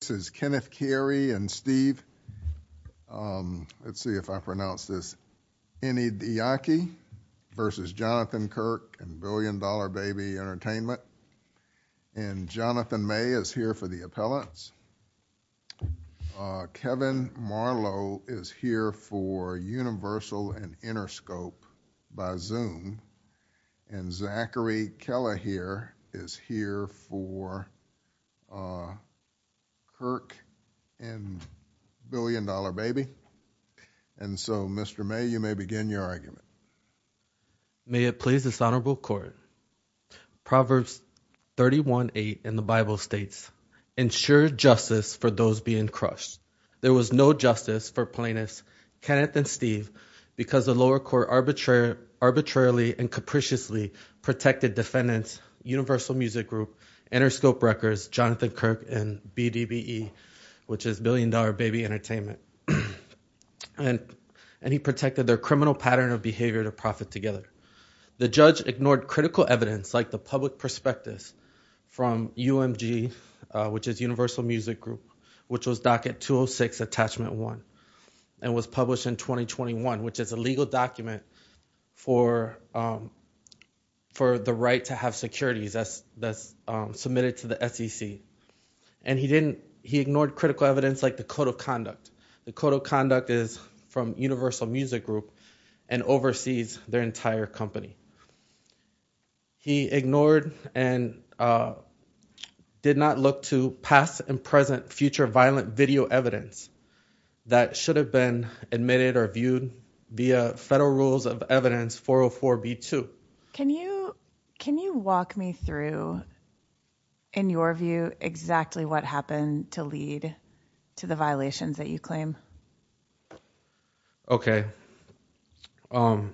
This is Kenneth Carey and Steve. Let's see if I pronounce this Anyadike versus Jonathan Kirk and Billion Dollar Baby Entertainment. And Jonathan May is here for the appellants. Kevin Marlowe is here for Universal and Interscope by Zoom. And Zachary Keller here is here for Jonathan Kirk and Billion Dollar Baby. And so, Mr. May, you may begin your argument. May it please this honorable court, Proverbs 31.8 in the Bible states, ensure justice for those being crushed. There was no justice for plaintiffs Kenneth and Steve because the lower court arbitrarily and capriciously protected defendants, Universal Music Group, Interscope records, Jonathan Kirk and BDBE, which is Billion Dollar Baby Entertainment. And he protected their criminal pattern of behavior to profit together. The judge ignored critical evidence like the public prospectus from UMG, which is Universal Music Group, which was docket 206 attachment one and was published in 2021, which is a legal document for the right to have securities that's submitted to the SEC. And he ignored critical evidence like the code of conduct. The code of conduct is from Universal Music Group and oversees their entire company. He ignored and did not look to past and present future violent video evidence that should have been admitted or viewed via federal rules of evidence 404B2. Can you, can you walk me through, in your view, exactly what happened to lead to the violations that you claim? Okay. Um,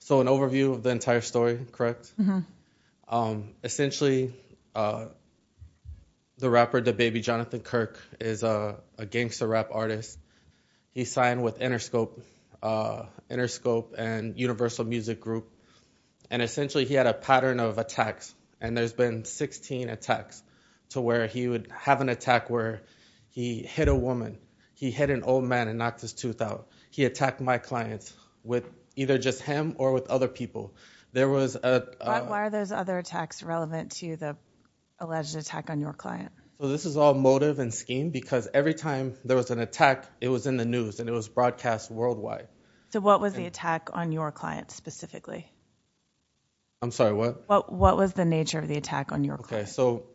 so an overview of the entire story, correct? Essentially, the rapper, the baby, Jonathan Kirk is a gangster rap artist. He signed with Interscope, Interscope and essentially he had a pattern of attacks. And there's been 16 attacks to where he would have an attack where he hit a woman, he hit an old man and knocked his tooth out. He attacked my clients with either just him or with other people. There was, uh, uh, Why are those other attacks relevant to the alleged attack on your client? So this is all motive and scheme because every time there was an attack, it was in the news and it was broadcast worldwide. So what was the attack on your client specifically? I'm sorry, what? What, what was the nature of the attack on your client? So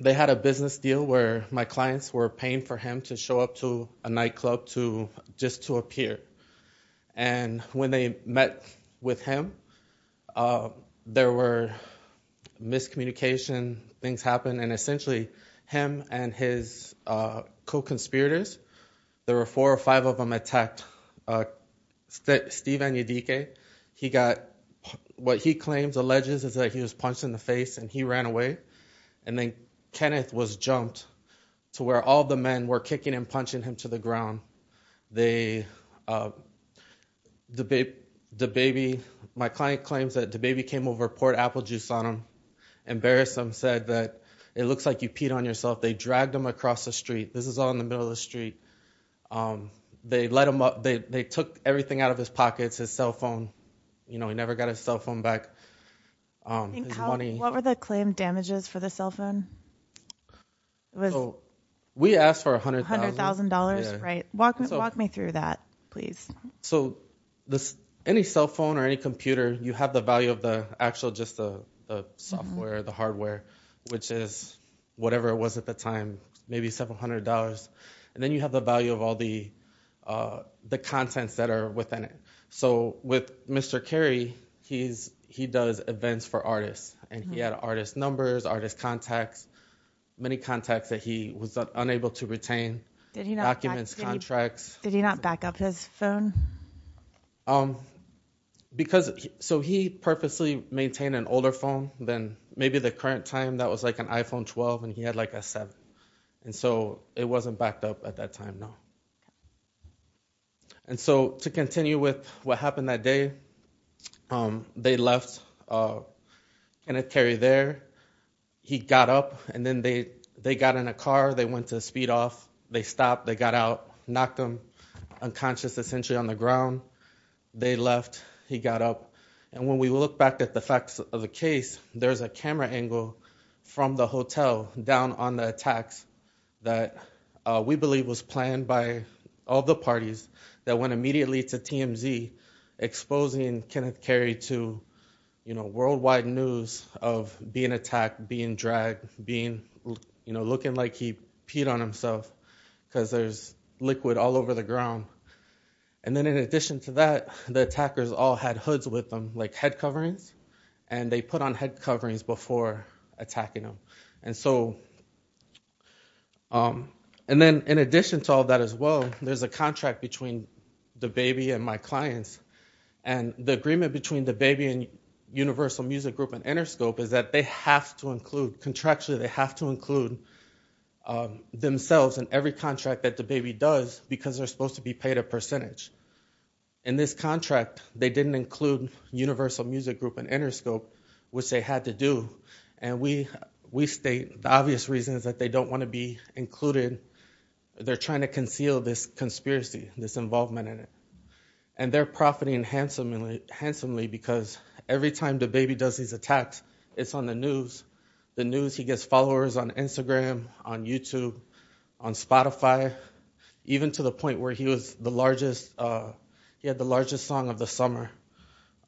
they had a business deal where my clients were paying for him to show up to a nightclub to just to appear. And when they met with him, uh, there were miscommunication, things happened. And essentially him and his, uh, co-conspirators, there were four or five of them attacked, uh, Steve, he got what he claims alleges is that he was punched in the face and he ran away. And then Kenneth was jumped to where all the men were kicking and punching him to the ground. They, uh, the baby, the baby, my client claims that the baby came over, poured apple juice on him, embarrassed him, said that it looks like you peed on yourself. They dragged him across the street. This is all in the middle of the night. Um, they let him up, they, they took everything out of his pockets, his cell phone, you know, he never got his cell phone back. Um, what were the claim damages for the cell phone? We asked for a hundred thousand dollars, right? Walk me, walk me through that please. So this, any cell phone or any computer, you have the value of the actual, just the software, the hardware, which is whatever it was at the time, maybe $700. And then you have the value of all the, uh, the contents that are within it. So with Mr. Kerry, he's, he does events for artists and he had artist numbers, artist contacts, many contacts that he was unable to retain documents, contracts. Did he not back up his phone? Um, because so he purposely maintained an older phone than maybe the current time that was like an iPhone 12 and he had like a seven. And so it wasn't backed up at that time. No. And so to continue with what happened that day, um, they left, uh, and it carried there. He got up and then they, they got in a car, they went to speed off, they stopped, they got out, knocked him unconscious, essentially on the ground. They left, he got up. And when we look back at the facts of the case, there's a camera angle from the hotel down on the attacks that, uh, we believe was planned by all the parties that went immediately to TMZ exposing Kenneth Kerry to, you know, worldwide news of being attacked, being dragged, being, you know, looking like he peed on himself cause there's liquid all over the ground. And then in addition to that, the attackers all had hoods with them like head coverings and they put on head coverings before attacking them. And so, um, and then in addition to all that as well, there's a contract between the baby and my clients and the agreement between the baby and universal music group and Interscope is that they have to include contractually, they have to include, um, themselves in every contract that the baby does because they're supposed to be paid a percentage. In this contract, they didn't include universal music group and Interscope, which they had to do. And we, we state the obvious reasons that they don't want to be included. They're trying to conceal this conspiracy, this involvement in it. And they're profiting handsomely, handsomely because every time the baby does these attacks, it's on the news, the news, he gets followers on Instagram, on YouTube, on Spotify, even to the point where he was the largest, uh, he had the largest song of the summer,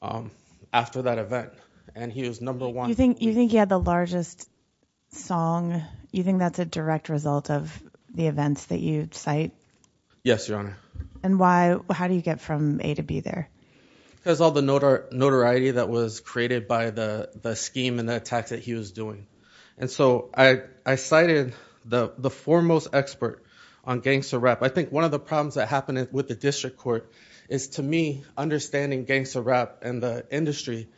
um, after that event. And he was number one. You think, you think he had the largest song? You think that's a direct result of the events that you cite? Yes, Your Honor. And why, how do you get from A to B there? Because all the notoriety that was created by the scheme and the attacks that he was doing. And so I cited the foremost expert on gangster rap. I think one of the problems that happened with the district court is, to me, understanding gangster rap and the industry,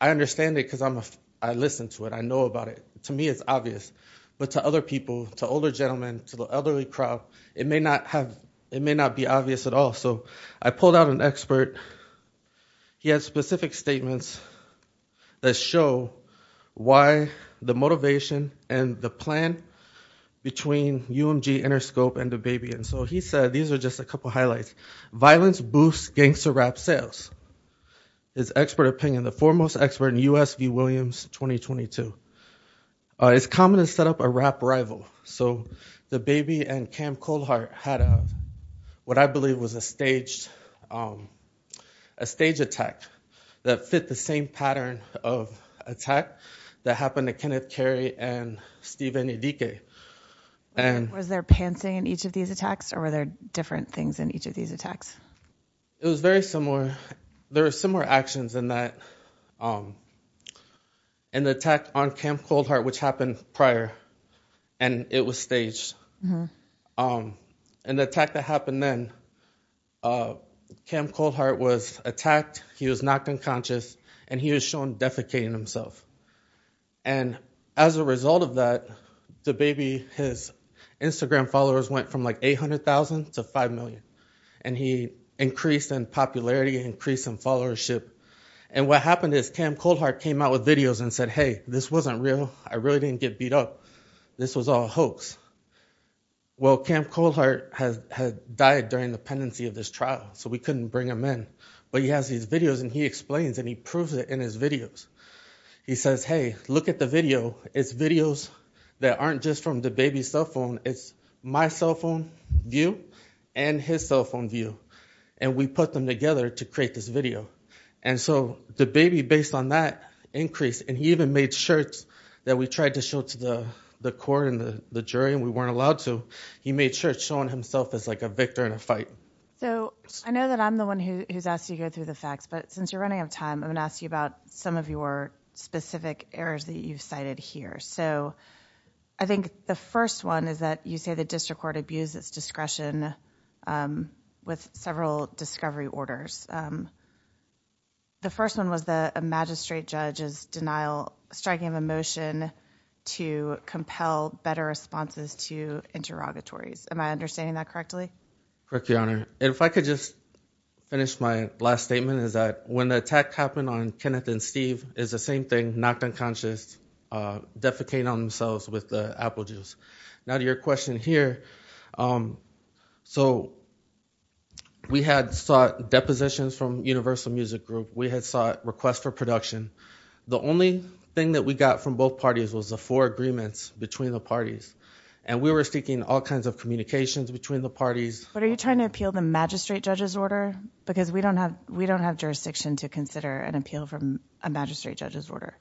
I understand it because I'm a, I listened to it. I know about it. To me, it's obvious, but to other people, to older gentlemen, to the elderly crowd, it may not have, it may not be obvious at all. So I pulled out an expert. He has specific statements that show why the motivation and the plan between UMG, Interscope, and what he said, these are just a couple of highlights. Violence boosts gangster rap sales. His expert opinion, the foremost expert in U.S. v. Williams, 2022. Uh, it's common to set up a rap rival. So the Baby and Cam Colhart had a, what I believe was a staged, um, a stage attack that fit the same pattern of attack that happened to Kenneth Carey and Steve Enedike. And was there pancing in each of these attacks or were there different things in each of these attacks? It was very similar. There were similar actions in that, um, in the attack on Cam Colhart, which happened prior and it was staged. Um, and the attack that happened then, uh, Cam Colhart was attacked. He was knocked unconscious and he was shown defecating himself. And as a result of that, the Baby, his Instagram followers went from like 800,000 to 5 million. And he increased in popularity, increased in followership. And what happened is Cam Colhart came out with videos and said, Hey, this wasn't real. I really didn't get beat up. This was all a hoax. Well, Cam Colhart has, had died during the pendency of this trial. So we couldn't bring him in, but he has these videos and he explains and he proves it in his videos. He says, Hey, look at the video. It's videos that aren't just from the Baby's cell phone. It's my cell phone view and his cell phone view. And we put them together to create this video. And so the Baby based on that increase and he even made shirts that we tried to show to the, the court and the jury and we weren't allowed to, he made shirts showing himself as like a victor in a fight. So I know that I'm the one who's asked you to go through the facts, but since you're running out of time, I'm going to ask you about some of your specific errors that you've cited here. So I think the first one is that you say the district court abused its discretion with several discovery orders. The first one was the magistrate judge's denial, striking of a motion to compel better responses to interrogatories. Am I understanding that correctly? Correct Your Honor. And if I could just finish my last statement is that when the attack happened on Kenneth and Steve is the same thing, knocked unconscious, defecating on themselves with the apple juice. Now to your question here. So we had sought depositions from universal music group. We had sought requests for production. The only thing that we got from both parties was the four agreements between the parties and we were seeking all parties. But are you trying to appeal the magistrate judge's order? Because we don't have, we don't have jurisdiction to consider an appeal from a magistrate judge's order.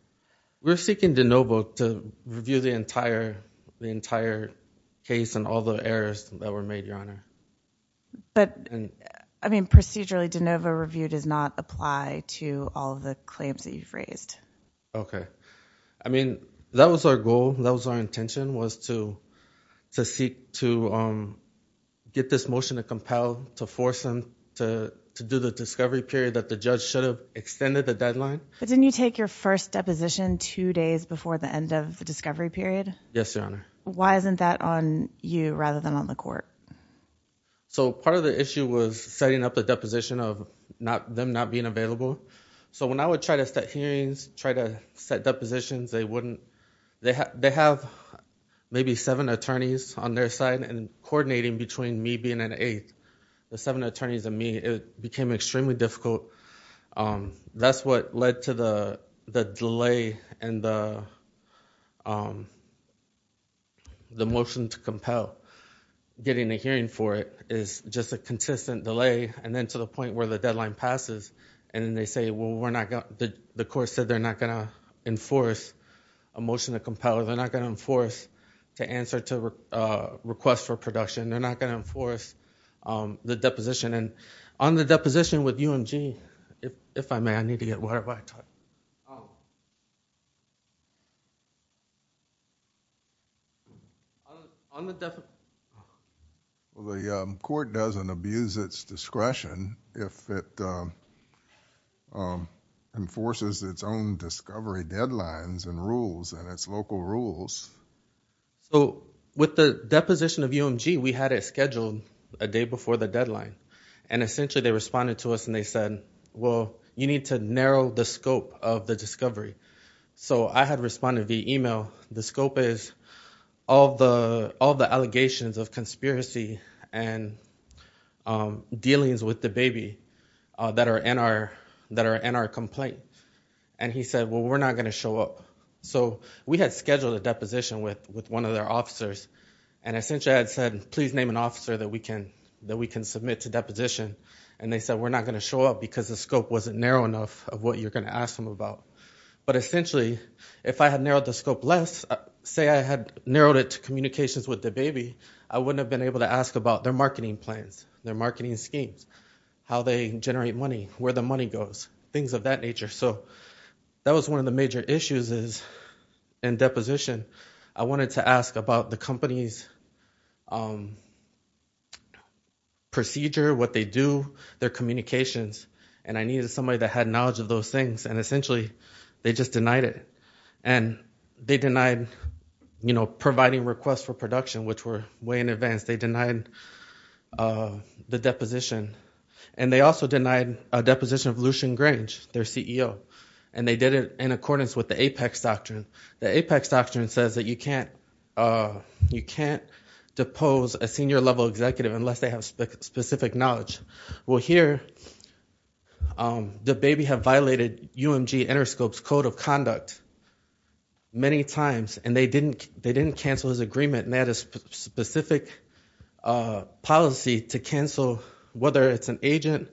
We're seeking DeNovo to review the entire, the entire case and all the errors that were made Your Honor. But I mean, procedurally DeNovo review does not apply to all of the claims that you've raised. Okay. I mean, that was our goal. That was our intention was to seek to get this motion to compel to force them to do the discovery period that the judge should have extended the deadline. But didn't you take your first deposition two days before the end of the discovery period? Yes, Your Honor. Why isn't that on you rather than on the court? So part of the issue was setting up a deposition of not them not being available. So when I would try to set hearings, try to set depositions, they wouldn't, they have maybe seven attorneys on their side and coordinating between me being an eighth, the seven attorneys and me, it became extremely difficult. That's what led to the delay and the motion to compel getting a hearing for it is just a consistent delay. And then to the point where the deadline passes and then they say, well, we're not going to, the court said they're not going to enforce a motion to compel or they're not going to enforce to answer to a request for production. They're not going to enforce the deposition. And on the deposition with UMG, if I may, I need to get whatever I talked. On the definition. Well, the court doesn't abuse its discretion if it, um, um, enforces its own discovery deadlines and rules and its local rules. So with the deposition of UMG, we had it scheduled a day before the deadline and essentially they responded to us and they said, well, you need to narrow the scope of the discovery. So I had responded via email. The scope is all the, all the allegations of conspiracy and, um, dealings with the baby, uh, that are in our, that are in our complaint. And he said, well, we're not going to show up. So we had scheduled a deposition with, with one of their officers and essentially I had said, please name an officer that we can, that we can submit to deposition. And they said, we're not going to show up because the scope wasn't narrow enough of what you're going to ask them about. But essentially if I had narrowed the scope less, say I had narrowed it to communications with the baby, I wouldn't have been able to ask about their marketing plans, their marketing schemes, how they generate money, where the money goes, things of that nature. So that was one of the major issues is in deposition. I wanted to ask about the company's, um, procedure, what they do, their communications. And I needed somebody that had knowledge of those things. And essentially they just denied it and they denied, you know, providing requests for production, which were way in advance. They denied, uh, the deposition and they also denied a deposition of Lucian Grange, their CEO. And they did it in accordance with the apex doctrine. The apex doctrine says that you can't, uh, you can't depose a senior level executive unless they have specific knowledge. Well here, um, the baby had violated UMG Interscope's Code of Conduct many times and they didn't, they didn't cancel his agreement. And they had a specific, uh, policy to cancel whether it's an agent,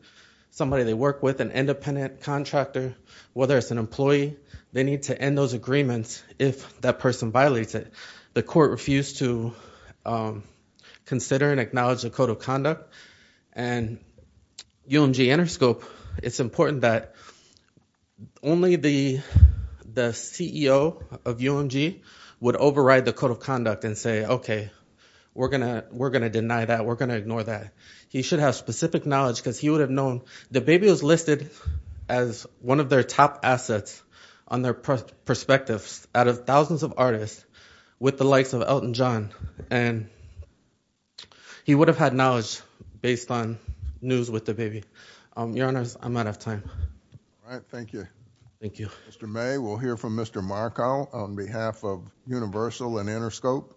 somebody they work with, an independent contractor, whether it's an employee. They need to end those agreements if that person violates it. The court refused to, um, consider and acknowledge the Code of Conduct. And UMG Interscope, it's important that only the, the CEO of UMG would override the Code of Conduct and say, okay, we're gonna, we're gonna deny that. We're gonna ignore that. He should have specific knowledge because he would have known. The baby was listed as one of their top assets on their perspectives out of thousands of artists with the likes of Elton John. And he would have had knowledge based on news with the baby. Um, your honors, I'm out of time. All right. Thank you. Thank you. Mr. May, we'll hear from Mr. Marko on behalf of Universal and Interscope.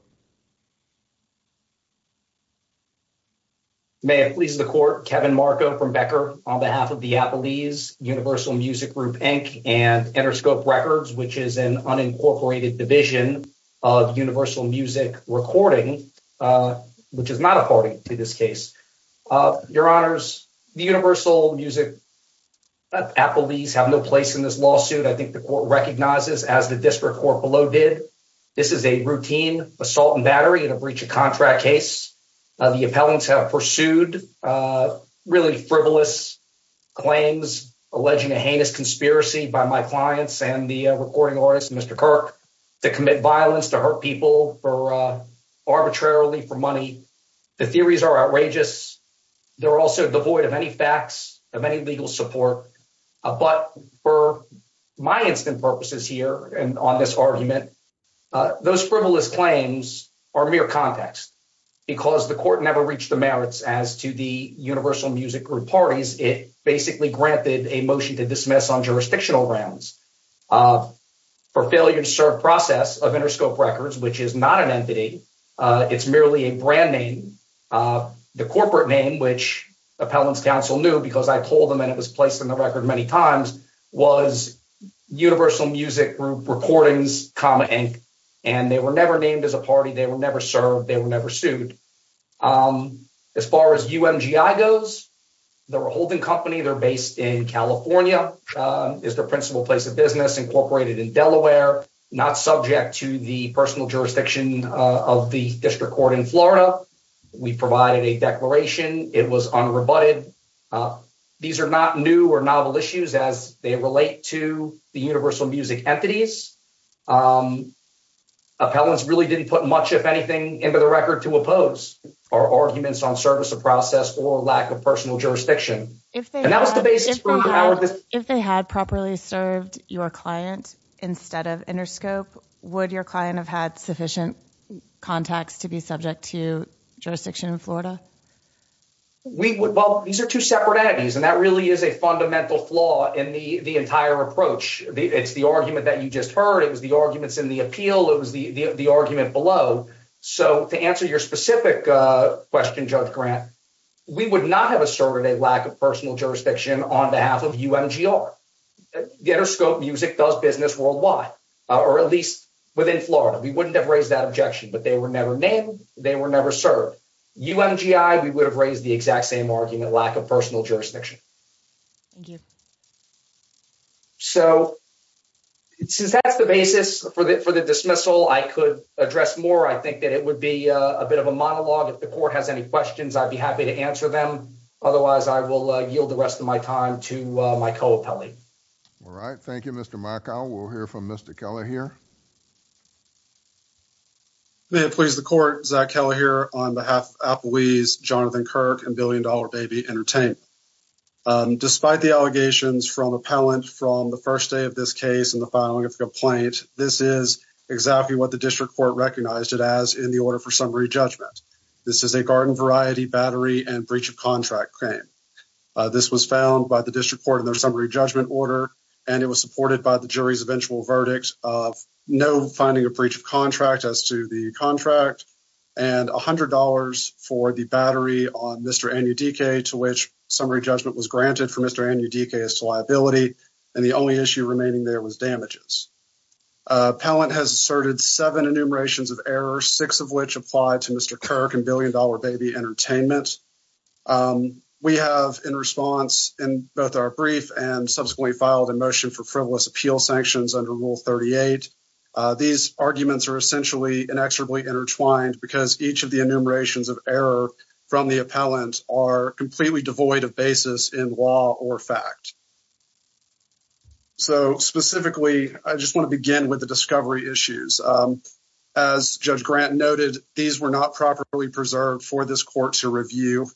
May it please the court, Kevin Marko from Becker on behalf of the Appellees, Universal Music Group, Inc. and Interscope Records, which is an unincorporated division of Universal Music Recording, uh, which is not a party to this case. Uh, your honors, the Universal Music Appellees have no place in this lawsuit. I think the court recognizes as the district court below did. This is a routine assault and battery in a breach of contract case. Uh, the appellants have pursued, uh, really frivolous claims, alleging a heinous conspiracy by my clients and the recording artist, Mr. Kirk, to commit violence, to hurt people for, uh, arbitrarily for money. The theories are outrageous. They're also devoid of any facts, of any legal support. Uh, but for my instant purposes here and on this argument, uh, those frivolous claims are mere context because the court never reached the merits as to the Universal Music Group parties. It basically granted a motion to dismiss on jurisdictional grounds, uh, for failure to serve process of Interscope Records, which is not an entity. Uh, it's merely a brand name. Uh, the corporate name, which Appellants Council knew because I told them and it was placed in the record many times was Universal Music Group Recordings, comma, inc. And they were never named as a party. They were never served. They were never sued. Um, as far as UMGI goes, they're a holding company. They're based in California, uh, is their principal place of business incorporated in Delaware, not subject to the personal jurisdiction, uh, of the district court in Florida. We provided a declaration. It was unrebutted. Uh, these are not new or novel issues as they relate to the Universal Music entities. Um, Appellants really didn't put much, if anything, into the record to oppose our arguments on service of process or lack of personal jurisdiction. And that was the basis for If they had properly served your client instead of Interscope, would your client have had sufficient contacts to be subject to jurisdiction in Florida? We would, well, these are two separate entities, and that really is a fundamental flaw in the, the entire approach. It's the argument that you just heard. It was the arguments in the appeal. It was the, the, the argument below. So to answer your specific, uh, question, Judge Grant, we would not have asserted a lack of personal jurisdiction on behalf of UMGR. The Interscope Music does business worldwide, uh, or at least within Florida. We wouldn't have raised that objection, but they were never named. They were never served. UMGI, we would have raised the exact same argument, lack of personal jurisdiction. Thank you. So since that's the basis for the, for the dismissal, I could address more. I think that it would be a bit of a monologue if the court has any questions, I'd be happy to answer them. Otherwise, I will yield the rest of my time to my co-appellee. All right. Thank you, Mr. Makao. We'll hear from Mr. Keller here. May it please the court, Zach Keller here on behalf of Applebee's, Jonathan Kirk, and Billion Dollar Baby Entertainment. Despite the allegations from appellant from the first day of this case and the filing of the complaint, this is exactly what the district court recognized it as in the order for summary judgment. This is a garden variety battery and breach of contract claim. This was found by the district court in their summary judgment order, and it was supported by the jury's eventual verdict of no finding a breach of contract as to the contract, and a hundred dollars for the battery on Mr. Anyudike to which summary judgment was granted for Mr. Anyudike as to liability, and the only issue remaining there was damages. Appellant has asserted seven enumerations of error, six of which apply to Mr. Kirk and Billion Dollar Baby Entertainment. We have in response in both our brief and subsequently filed a motion for frivolous appeal sanctions under Rule 38. These arguments are essentially inexorably intertwined because each of the enumerations of error from the appellant are completely devoid of basis in law or fact. So specifically, I just noted these were not properly preserved for this court to review.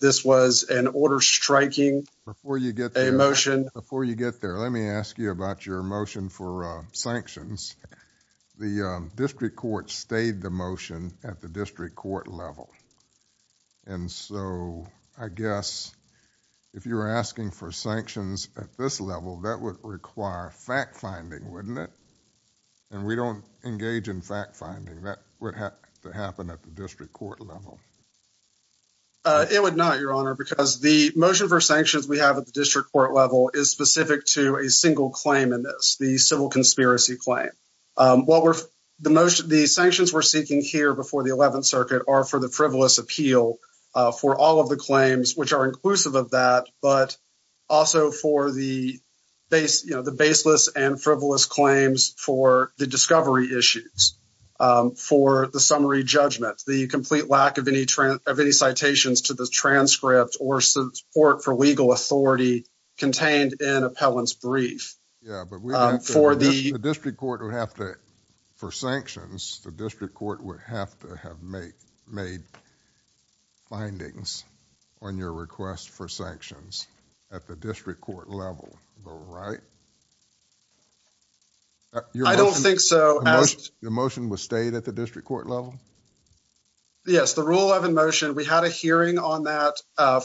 This was an order striking motion. Before you get there, let me ask you about your motion for sanctions. The district court stayed the motion at the district court level, and so I guess if you were asking for sanctions at this level, that would require fact finding, wouldn't it? And we don't engage in fact finding. That would have to happen at the district court level. It would not, your honor, because the motion for sanctions we have at the district court level is specific to a single claim in this, the civil conspiracy claim. The sanctions we're seeking here before the 11th circuit are for the frivolous appeal for all of the claims which are inclusive of that, but also for the baseless and frivolous claims for the discovery issues, for the summary judgment, the complete lack of any citations to the transcript or support for legal authority contained in appellant's brief. The district court would have to, for sanctions, the district court level, right? I don't think so. The motion was stayed at the district court level? Yes, the rule 11 motion, we had a hearing on that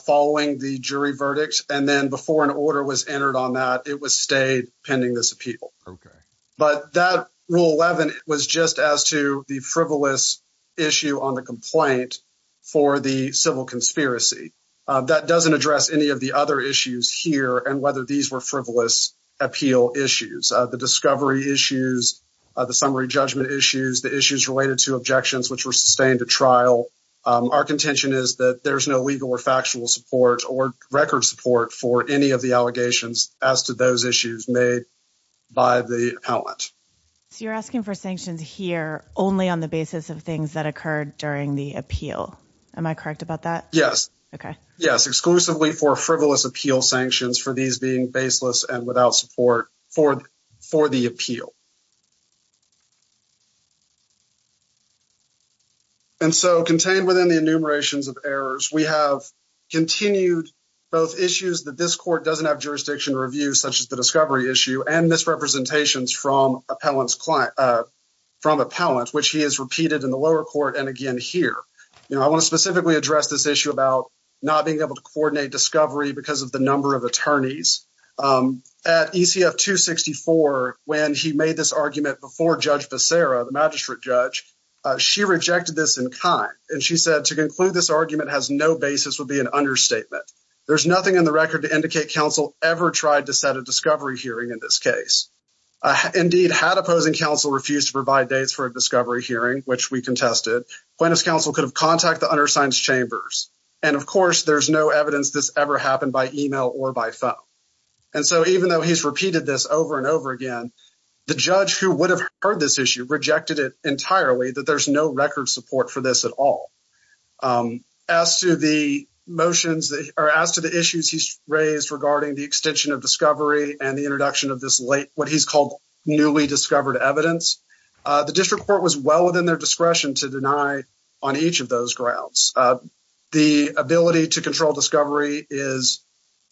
following the jury verdict, and then before an order was entered on that, it was stayed pending this appeal. Okay. But that rule 11 was just as to the frivolous issue on the complaint for the civil conspiracy. That doesn't address any of the other issues here and whether these were frivolous appeal issues, the discovery issues, the summary judgment issues, the issues related to objections which were sustained at trial. Our contention is that there's no legal or factual support or record support for any of the allegations as to those issues made by the appellant. So you're asking for sanctions here only on the basis of things that occurred during the appeal. Am I correct about that? Yes. Okay. Yes, exclusively for frivolous appeal sanctions for these being baseless and without support for the appeal. And so contained within the enumerations of errors, we have continued both issues that this court doesn't have jurisdiction to review such as the discovery issue and misrepresentations from appellants, which he has repeated in the lower court and here. I want to specifically address this issue about not being able to coordinate discovery because of the number of attorneys. At ECF 264, when he made this argument before Judge Becerra, the magistrate judge, she rejected this in kind and she said to conclude this argument has no basis would be an understatement. There's nothing in the record to indicate counsel ever tried to set a discovery hearing in this case. Indeed, had opposing counsel refused to provide dates for a plaintiff's counsel could have contact the undersigned's chambers. And of course, there's no evidence this ever happened by email or by phone. And so even though he's repeated this over and over again, the judge who would have heard this issue rejected it entirely that there's no record support for this at all. As to the motions that are asked to the issues he's raised regarding the extension of discovery and the introduction of this late what he's called newly discovered evidence. The district court was well within their discretion to deny on each of those grounds. The ability to control discovery is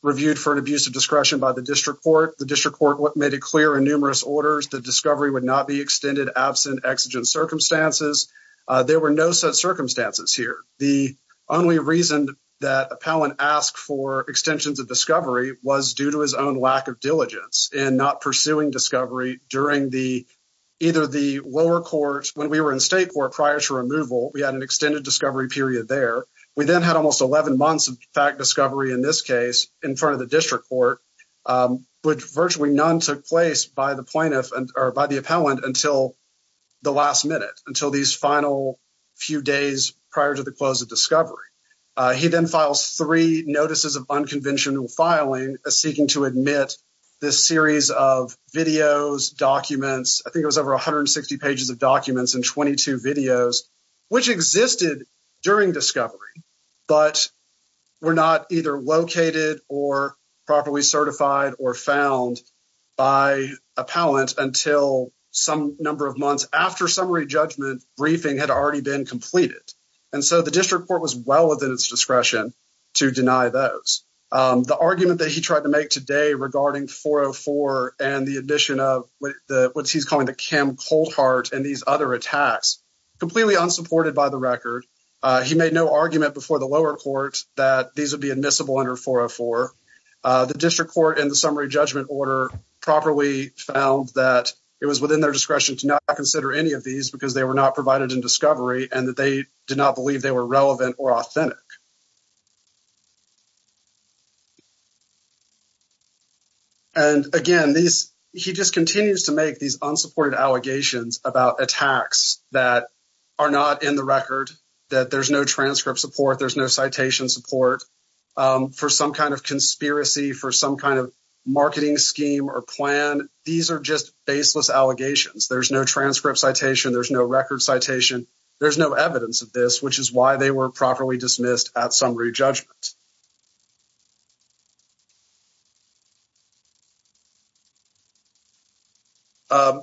reviewed for an abuse of discretion by the district court. The district court made it clear in numerous orders that discovery would not be extended absent exigent circumstances. There were no such circumstances here. The only reason that appellant asked for extensions of discovery was due to his own lack of diligence in not pursuing discovery during the either the lower court when we were in state court prior to removal. We had an extended discovery period there. We then had almost 11 months of fact discovery in this case in front of the district court, which virtually none took place by the plaintiff and or by the appellant until the last minute until these final few days prior to the close of discovery. He then files three notices of unconventional filing seeking to admit this series of videos documents. I think it was over 160 pages of documents and 22 videos which existed during discovery but were not either located or properly certified or found by appellant until some number of months after summary judgment briefing had already been completed. And so the district court was well within its discretion to deny those. The argument that he tried to make today regarding 404 and the admission of what he's calling the Kim Coldheart and these other attacks completely unsupported by the record. He made no argument before the lower court that these would be admissible under 404. The district court in the summary judgment order properly found that it was within their discretion to not consider any of these because they were not provided in discovery and that they did not believe they were relevant or authentic. And again, he just continues to make these unsupported allegations about attacks that are not in the record, that there's no transcript support, there's no citation support for some kind of conspiracy, for some kind of marketing scheme or plan. These are just baseless allegations. There's no transcript citation, there's no record citation, there's no evidence of this which is why they were properly dismissed at summary judgment.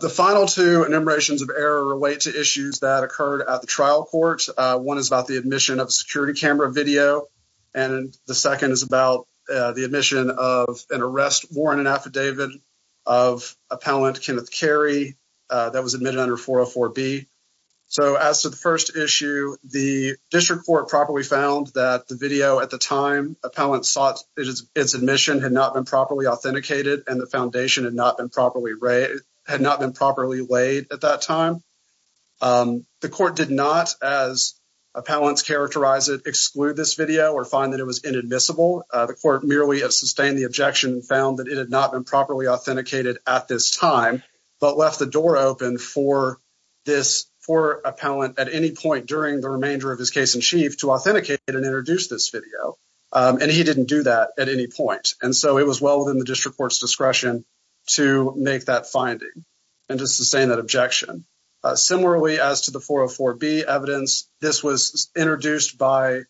The final two enumerations of error relate to issues that occurred at the trial court. One is about the admission of security camera video and the second is about the admission of an arrest warrant and affidavit of appellant Kenneth Carey that was admitted under 404B. So as to the first issue, the district court properly found that the video at the time appellant sought its admission had not been properly authenticated and the foundation had not been properly laid at that time. The court did not, as appellants characterize it, exclude this video or find that it was inadmissible. The court merely sustained the objection and found that it had not been properly authenticated at this time but left the door open for this for appellant at any point during the remainder of his case in chief to authenticate and introduce this video and he didn't do that at any point and so it was well within the district court's discretion to make that finding and to sustain that objection. Similarly, as to the 404B evidence, this was introduced by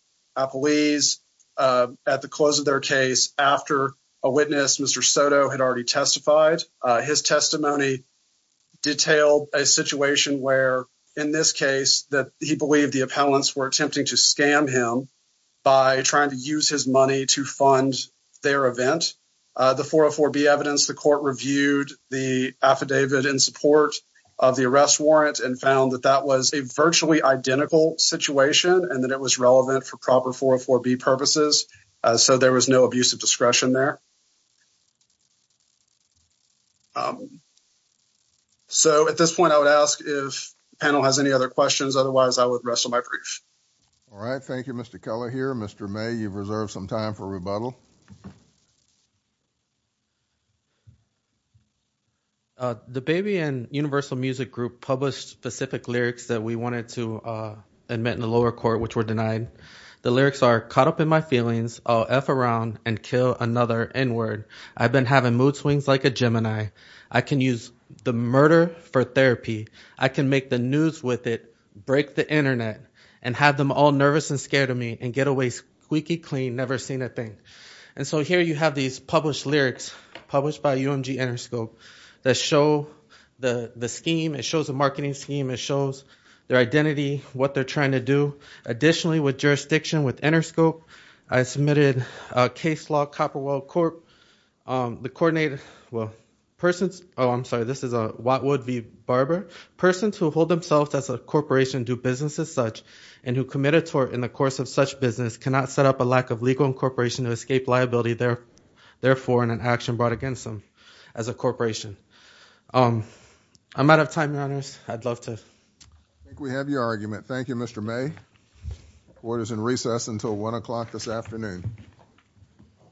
police at the close of their case after a witness, Mr. Soto, had already testified. His testimony detailed a situation where in this case that he believed the appellants were attempting to scam him by trying to use his money to fund their event. The 404B evidence, the court reviewed the affidavit in support of the arrest warrant and found that that was a virtually identical situation and that it was relevant for proper 404B purposes so there was no abuse of discretion there. So at this point, I would ask if the panel has any other questions. Otherwise, I would rest on my brief. All right. Thank you, Mr. Keller here. Mr. May, you've reserved some time for rebuttal. The Baby and Universal Music Group published specific lyrics that we wanted to admit in the lower court which were denied. The lyrics are, caught up in my feelings, I'll F around and kill another N-word. I've been having mood swings like a Gemini. I can use the murder for therapy. I can make the news with it, break the internet, and have them all nervous and scared of me and get squeaky clean, never seen a thing. And so here you have these published lyrics, published by UMG Interscope, that show the scheme. It shows a marketing scheme. It shows their identity, what they're trying to do. Additionally, with jurisdiction with Interscope, I submitted a case law, Copperwell Court. The coordinated, well, persons, oh, I'm sorry, this is Watwood v. Barber. Persons who hold themselves as a corporation do business as such and who commit a tort in the course of such business cannot set up a lack of legal incorporation to escape liability, therefore, in an action brought against them as a corporation. I'm out of time, Your Honors. I'd love to... I think we have your argument. Thank you, Mr. May. Court is in recess until 1 o'clock this afternoon.